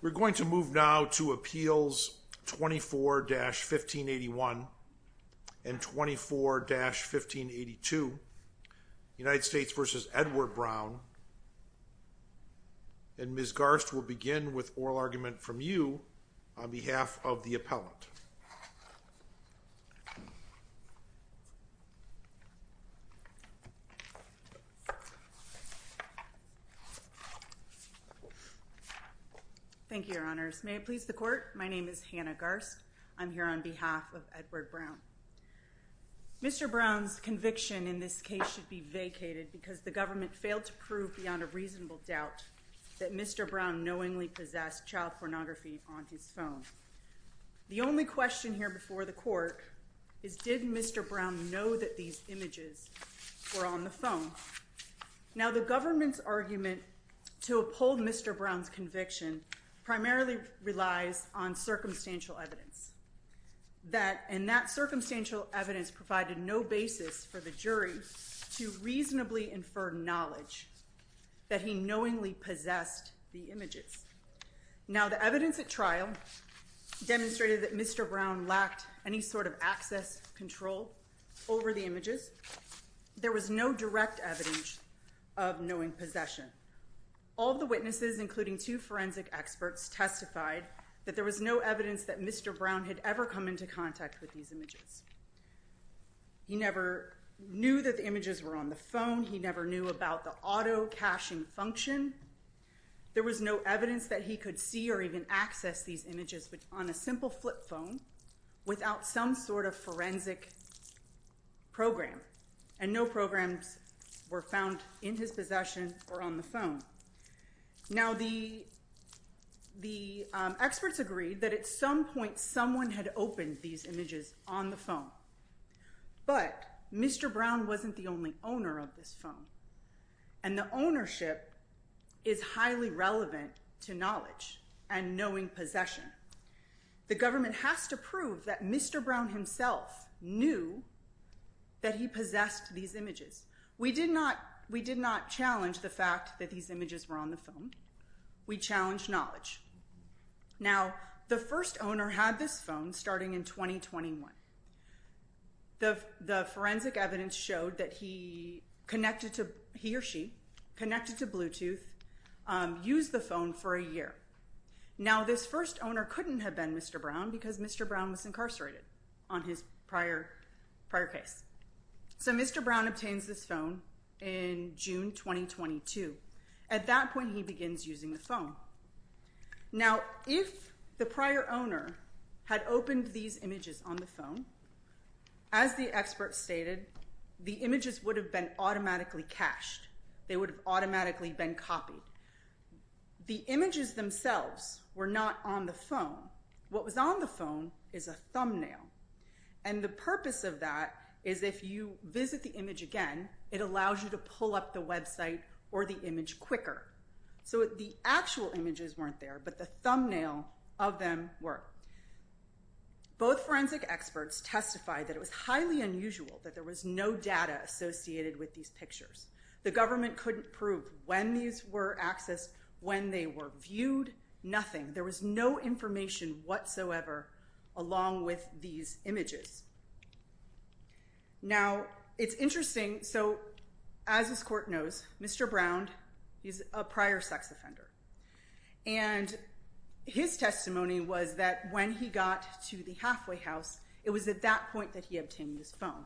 We're going to move now to Appeals 24-1581 and 24-1582 United States v. Edward Brown and Ms. Garst will begin with oral argument from you on behalf of the appellant. Ms. Garst Thank you, Your Honors. May it please the Court, my name is Hannah Garst. I'm here on behalf of Edward Brown. Mr. Brown's conviction in this case should be vacated because the government failed to prove beyond a reasonable doubt that Mr. Brown knowingly possessed child pornography on his phone. The only question here before the Court is did Mr. Brown know that these images were on the phone? Now, the government's argument to uphold Mr. Brown's conviction primarily relies on circumstantial evidence, and that circumstantial evidence provided no basis for the jury to reasonably infer knowledge that he knowingly possessed the images. Now, the evidence at trial demonstrated that Mr. Brown lacked any sort of access control over the images. There was no direct evidence of knowing possession. All the witnesses, including two forensic experts, testified that there was no evidence that Mr. Brown had ever come into contact with these images. He never knew that the images were on the phone. He never knew about the auto-caching function. There was no evidence that he could see or even access these images on a simple flip phone without some sort of forensic program, and no programs were found in his possession or on the phone. Now, the experts agreed that at some point someone had opened these images on the phone, but Mr. Brown wasn't the only owner of this phone, and the ownership is highly relevant to knowledge and knowing possession. The government has to prove that Mr. Brown himself knew that he possessed these images. We did not challenge the fact that these images were on the phone. We challenged knowledge. Now, the first owner had this phone starting in 2021. The forensic evidence showed that he or she connected to Bluetooth, used the phone for a year. Now, this first owner couldn't have been Mr. Brown because Mr. Brown was incarcerated on his prior case. So Mr. Brown obtains this phone in June 2022. At that point, he begins using the phone. Now, if the prior owner had opened these images on the phone, as the experts stated, the images would have been automatically cached. They would have automatically been copied. The images themselves were not on the phone. What was on the phone is a thumbnail, and the purpose of that is if you visit the image again, it allows you to pull up the website or the image quicker. So the actual images weren't there, but the thumbnail of them were. Both forensic experts testified that it was highly unusual that there was no data associated with these pictures. The government couldn't prove when these were accessed, when they were viewed, nothing. There was no information whatsoever along with these images. Now, it's interesting. So as this court knows, Mr. Brown, he's a prior sex offender, and his testimony was that when he got to the halfway house, it was at that point that he obtained his phone.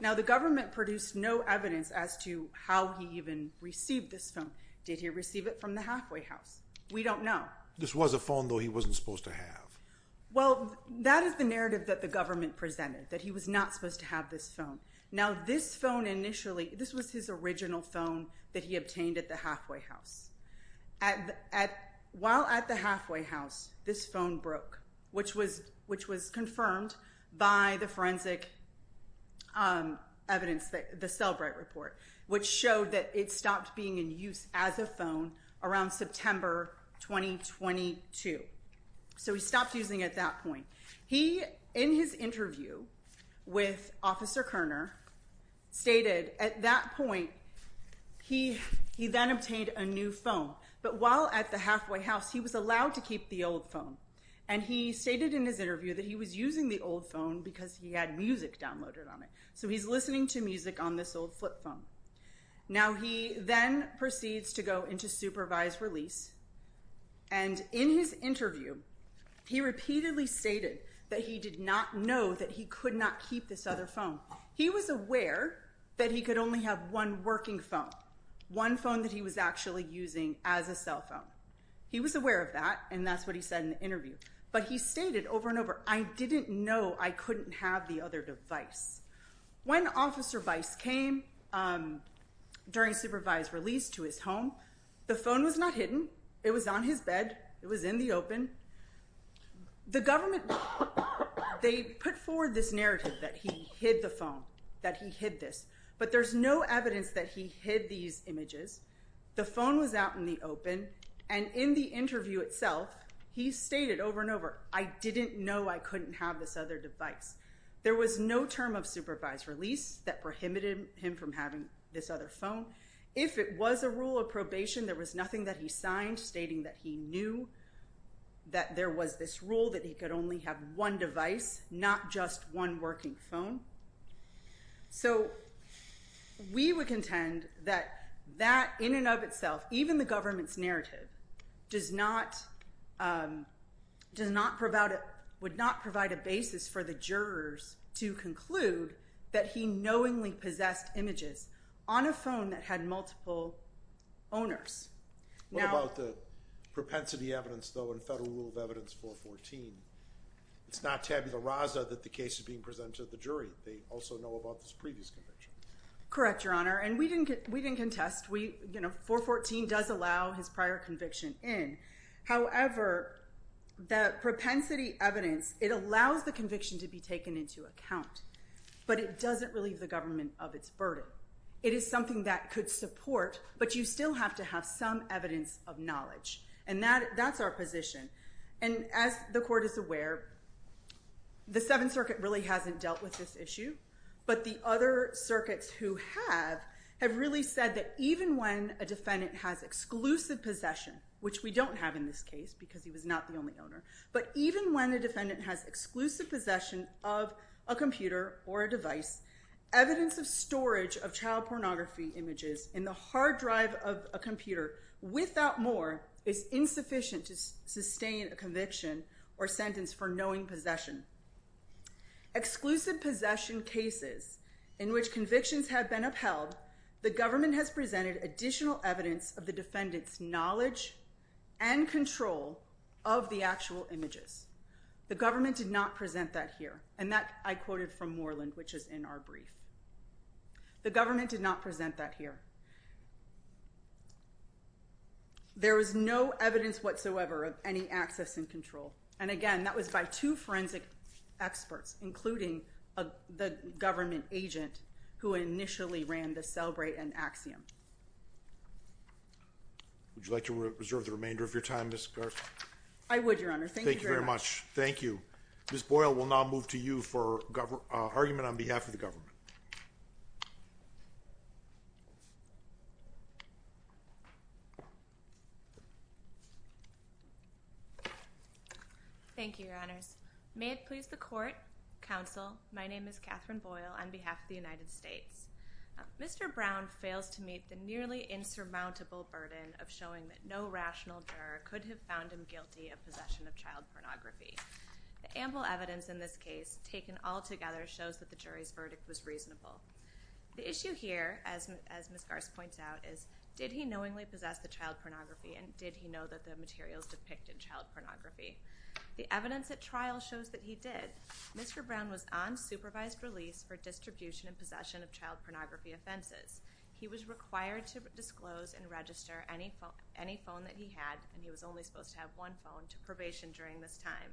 Now, the government produced no evidence as to how he even received this phone. Did he receive it from the halfway house? We don't know. This was a phone, though, he wasn't supposed to have. Well, that is the narrative that the government presented, that he was not supposed to have this phone. Now, this phone initially, this was his original phone that he obtained at the halfway house. While at the halfway house, this phone broke, which was confirmed by the forensic evidence, the Celbright report, which showed that it stopped being in use as a phone around September 2022. So he stopped using it at that point. He, in his interview with Officer Kerner, stated at that point, he then obtained a new phone. But while at the halfway house, he was allowed to keep the old phone. And he stated in his interview that he was using the old phone because he had music downloaded on it. So he's listening to music on this old flip phone. Now, he then proceeds to go into supervised release. And in his interview, he repeatedly stated that he did not know that he could not keep this other phone. He was aware that he could only have one working phone, one phone that he was actually using as a cell phone. He was aware of that, and that's what he said in the interview. But he stated over and over, I didn't know I couldn't have the other device. When Officer Bice came during supervised release to his home, the phone was not hidden. It was on his bed. It was in the open. The government, they put forward this narrative that he hid the phone, that he hid this. But there's no evidence that he hid these images. The phone was out in the open. And in the interview itself, he stated over and over, I didn't know I couldn't have this other device. There was no term of supervised release that prohibited him from having this other phone. If it was a rule of probation, there was nothing that he signed stating that he knew that there was this rule that he could only have one device, not just one working phone. So we would contend that that in and of itself, even the government's narrative, would not provide a basis for the jurors to conclude that he knowingly possessed images on a phone that had multiple owners. What about the propensity evidence, though, in Federal Rule of Evidence 414? It's not tabula rasa that the case is being presented to the jury. They also know about this previous conviction. Correct, Your Honor. And we didn't contest. 414 does allow his prior conviction in. However, the propensity evidence, it allows the conviction to be taken into account. But it doesn't relieve the government of its burden. It is something that could support, but you still have to have some evidence of knowledge. And that's our position. And as the Court is aware, the Seventh Circuit really hasn't dealt with this issue. But the other circuits who have, have really said that even when a defendant has exclusive possession, which we don't have in this case because he was not the only owner. But even when a defendant has exclusive possession of a computer or a device, evidence of storage of child pornography images in the hard drive of a computer without more is insufficient to sustain a conviction or sentence for knowing possession. Exclusive possession cases in which convictions have been upheld, the government has presented additional evidence of the defendant's knowledge and control of the actual images. The government did not present that here. And that I quoted from Moreland, which is in our brief. The government did not present that here. There is no evidence whatsoever of any access and control. And again, that was by two forensic experts, including the government agent who initially ran the Celebrate and Axiom. Would you like to reserve the remainder of your time, Ms. Garza? I would, Your Honor. Thank you very much. Thank you very much. Thank you. Ms. Boyle, we'll now move to you for argument on behalf of the government. Thank you, Your Honors. May it please the Court, Counsel, my name is Catherine Boyle on behalf of the United States. Mr. Brown fails to meet the nearly insurmountable burden of showing that no rational juror could have found him guilty of possession of child pornography. The ample evidence in this case, taken all together, shows that the jury's verdict was reasonable. The issue here, as Ms. Garza points out, is did he knowingly possess the child pornography, and did he know that the materials depicted child pornography? The evidence at trial shows that he did. Mr. Brown was on supervised release for distribution and possession of child pornography offenses. He was required to disclose and register any phone that he had, and he was only supposed to have one phone, to probation during this time.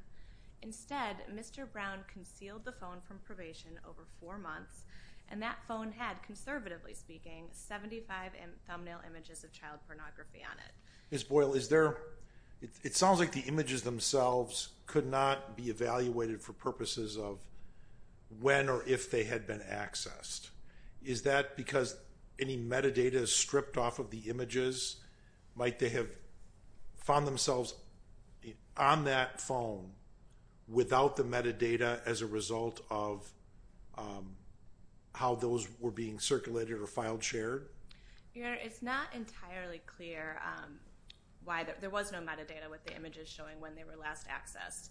Instead, Mr. Brown concealed the phone from probation over four months, and that phone had, conservatively speaking, 75 thumbnail images of child pornography on it. Ms. Boyle, it sounds like the images themselves could not be evaluated for purposes of when or if they had been accessed. Is that because any metadata is stripped off of the images? Might they have found themselves on that phone without the metadata as a result of how those were being circulated or file-shared? Your Honor, it's not entirely clear why there was no metadata with the images showing when they were last accessed.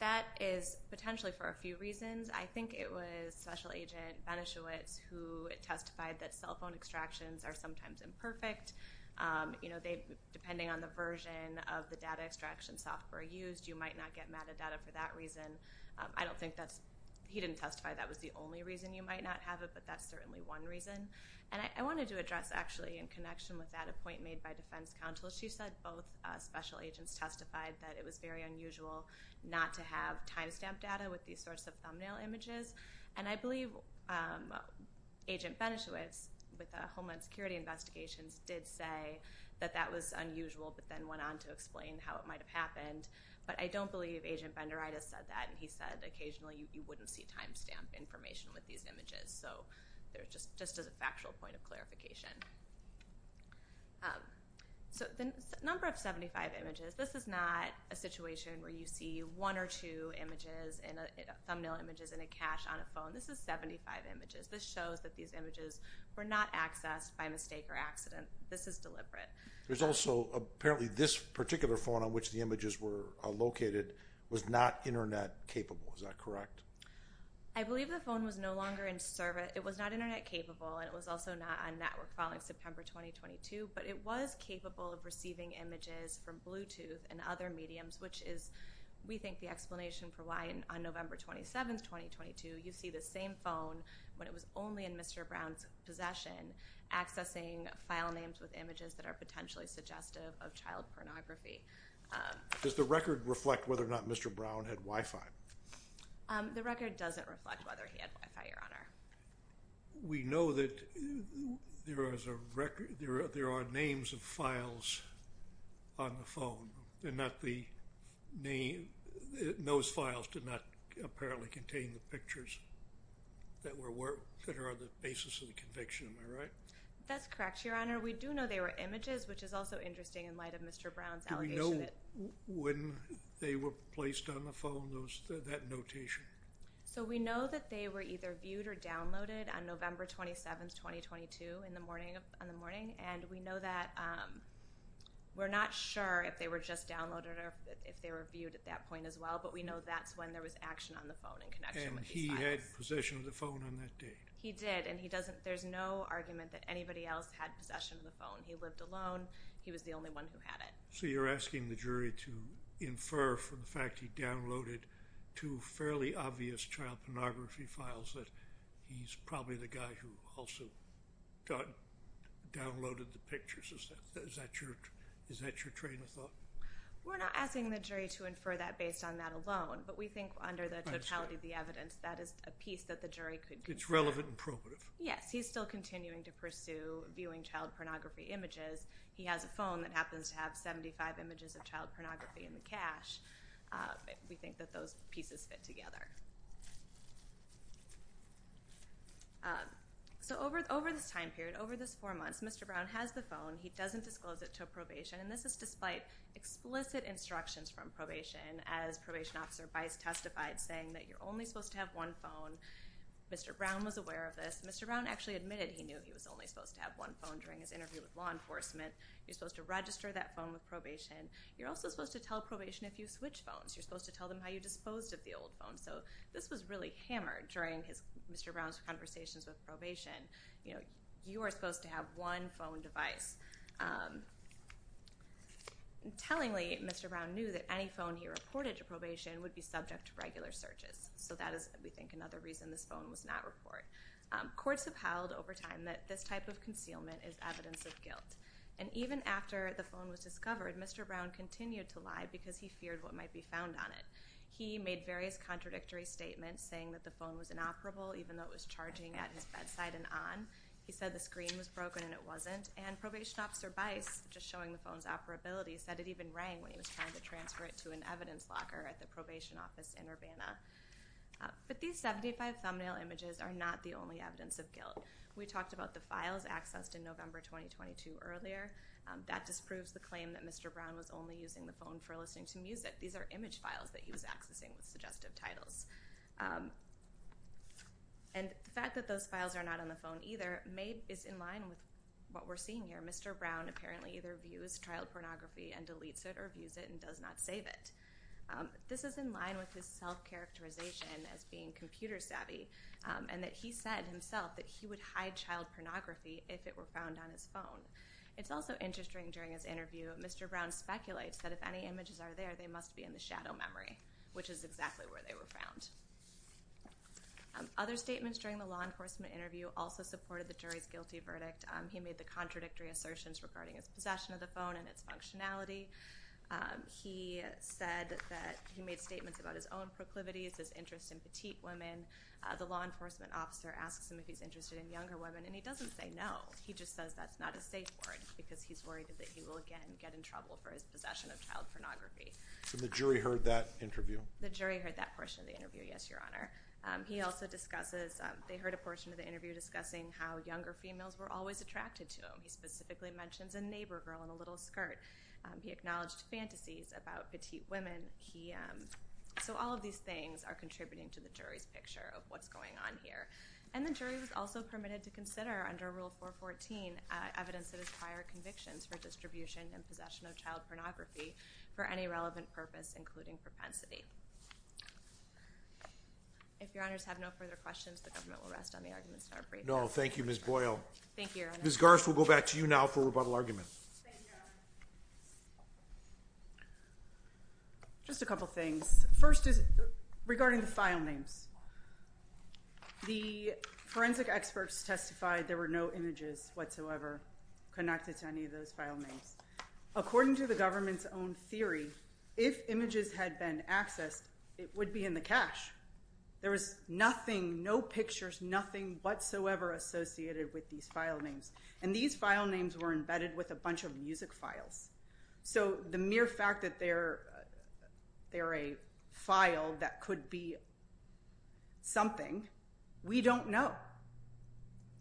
That is potentially for a few reasons. I think it was Special Agent Beneschewitz who testified that cell phone extractions are sometimes imperfect. You know, depending on the version of the data extraction software used, you might not get metadata for that reason. I don't think that's – he didn't testify that was the only reason you might not have it, but that's certainly one reason. And I wanted to address, actually, in connection with that, a point made by defense counsel. She said both Special Agents testified that it was very unusual not to have timestamp data with these sorts of thumbnail images. And I believe Agent Beneschewitz, with Homeland Security Investigations, did say that that was unusual, but then went on to explain how it might have happened. But I don't believe Agent Benderitis said that, and he said occasionally you wouldn't see timestamp information with these images. So just as a factual point of clarification. So the number of 75 images, this is not a situation where you see one or two images, thumbnail images, in a cache on a phone. This is 75 images. This shows that these images were not accessed by mistake or accident. This is deliberate. There's also – apparently this particular phone on which the images were located was not Internet capable. Is that correct? I believe the phone was no longer in – it was not Internet capable, and it was also not on network following September 2022, but it was capable of receiving images from Bluetooth and other mediums, which is, we think, the explanation for why on November 27, 2022, you see the same phone when it was only in Mr. Brown's possession, accessing file names with images that are potentially suggestive of child pornography. Does the record reflect whether or not Mr. Brown had Wi-Fi? The record doesn't reflect whether he had Wi-Fi, Your Honor. We know that there are names of files on the phone, and those files did not apparently contain the pictures that are on the basis of the conviction. Am I right? That's correct, Your Honor. We do know they were images, which is also interesting in light of Mr. Brown's allegation that – Do we know when they were placed on the phone, that notation? So we know that they were either viewed or downloaded on November 27, 2022, on the morning, and we know that – we're not sure if they were just downloaded or if they were viewed at that point as well, but we know that's when there was action on the phone in connection with these files. And he had possession of the phone on that date? He did, and he doesn't – there's no argument that anybody else had possession of the phone. He lived alone. He was the only one who had it. So you're asking the jury to infer from the fact he downloaded two fairly obvious child pornography files that he's probably the guy who also downloaded the pictures. Is that your train of thought? We're not asking the jury to infer that based on that alone, but we think under the totality of the evidence that is a piece that the jury could consider. It's relevant and probative. Yes. He's still continuing to pursue viewing child pornography images. He has a phone that happens to have 75 images of child pornography in the cache. We think that those pieces fit together. So over this time period, over this four months, Mr. Brown has the phone. He doesn't disclose it until probation, and this is despite explicit instructions from probation as Probation Officer Bice testified, saying that you're only supposed to have one phone. Mr. Brown was aware of this. Mr. Brown actually admitted he knew he was only supposed to have one phone during his interview with law enforcement. You're supposed to register that phone with probation. You're also supposed to tell probation if you switch phones. You're supposed to tell them how you disposed of the old phone. So this was really hammered during Mr. Brown's conversations with probation. You are supposed to have one phone device. Tellingly, Mr. Brown knew that any phone he reported to probation would be subject to regular searches. So that is, we think, another reason this phone was not reported. Courts have held over time that this type of concealment is evidence of guilt. And even after the phone was discovered, Mr. Brown continued to lie because he feared what might be found on it. He made various contradictory statements saying that the phone was inoperable even though it was charging at his bedside and on. He said the screen was broken and it wasn't. And Probation Officer Bice, just showing the phone's operability, said it even rang when he was trying to transfer it to an evidence locker at the probation office in Urbana. But these 75 thumbnail images are not the only evidence of guilt. We talked about the files accessed in November 2022 earlier. That disproves the claim that Mr. Brown was only using the phone for listening to music. These are image files that he was accessing with suggestive titles. And the fact that those files are not on the phone either is in line with what we're seeing here. Mr. Brown apparently either views child pornography and deletes it or views it and does not save it. This is in line with his self-characterization as being computer savvy and that he said himself that he would hide child pornography if it were found on his phone. It's also interesting during his interview, Mr. Brown speculates that if any images are there, they must be in the shadow memory, which is exactly where they were found. Other statements during the law enforcement interview also supported the jury's guilty verdict. He made the contradictory assertions regarding his possession of the phone and its functionality. He said that he made statements about his own proclivities, his interest in petite women. The law enforcement officer asks him if he's interested in younger women, and he doesn't say no. He just says that's not a safe word because he's worried that he will again get in trouble for his possession of child pornography. So the jury heard that interview? The jury heard that portion of the interview, yes, Your Honor. He also discusses – they heard a portion of the interview discussing how younger females were always attracted to him. He specifically mentions a neighbor girl in a little skirt. He acknowledged fantasies about petite women. So all of these things are contributing to the jury's picture of what's going on here. And the jury was also permitted to consider under Rule 414 evidence of his prior convictions for distribution and possession of child pornography for any relevant purpose, including propensity. If Your Honors have no further questions, the government will rest on the arguments in our briefing. No, thank you, Ms. Boyle. Thank you, Your Honor. Ms. Garst, we'll go back to you now for rebuttal argument. Thank you, Your Honor. Just a couple things. First is regarding the file names. The forensic experts testified there were no images whatsoever connected to any of those file names. According to the government's own theory, if images had been accessed, it would be in the cache. There was nothing, no pictures, nothing whatsoever associated with these file names. And these file names were embedded with a bunch of music files. So the mere fact that they're a file that could be something, we don't know.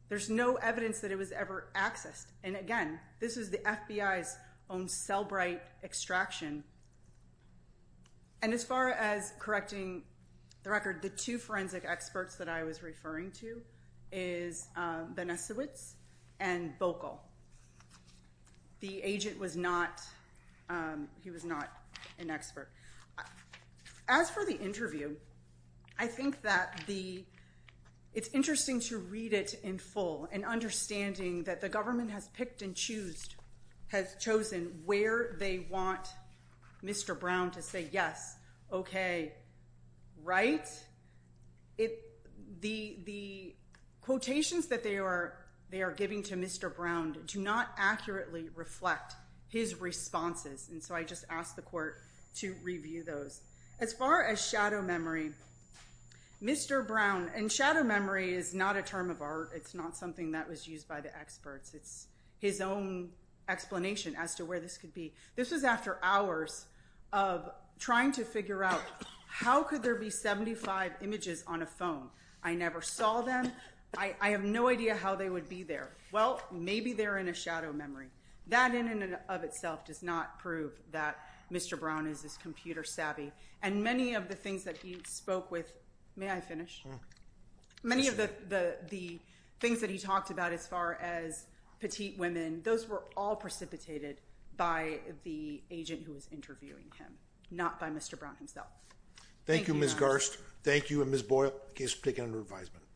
There's no evidence that it was ever accessed. And again, this is the FBI's own Cellbrite extraction. And as far as correcting the record, the two forensic experts that I was referring to is Benesiewicz and Boekel. The agent was not, he was not an expert. As for the interview, I think that the, it's interesting to read it in full, and understanding that the government has picked and chosen where they want Mr. Brown to say yes, okay, right. The quotations that they are giving to Mr. Brown do not accurately reflect his responses. And so I just asked the court to review those. As far as shadow memory, Mr. Brown, and shadow memory is not a term of art. It's not something that was used by the experts. It's his own explanation as to where this could be. This was after hours of trying to figure out how could there be 75 images on a phone. I never saw them. I have no idea how they would be there. Well, maybe they're in a shadow memory. That in and of itself does not prove that Mr. Brown is this computer savvy. And many of the things that he spoke with, may I finish? Many of the things that he talked about as far as petite women, those were all precipitated by the agent who was interviewing him, not by Mr. Brown himself. Thank you, Ms. Garst. Thank you, and Ms. Boekel, case is taken under advisement.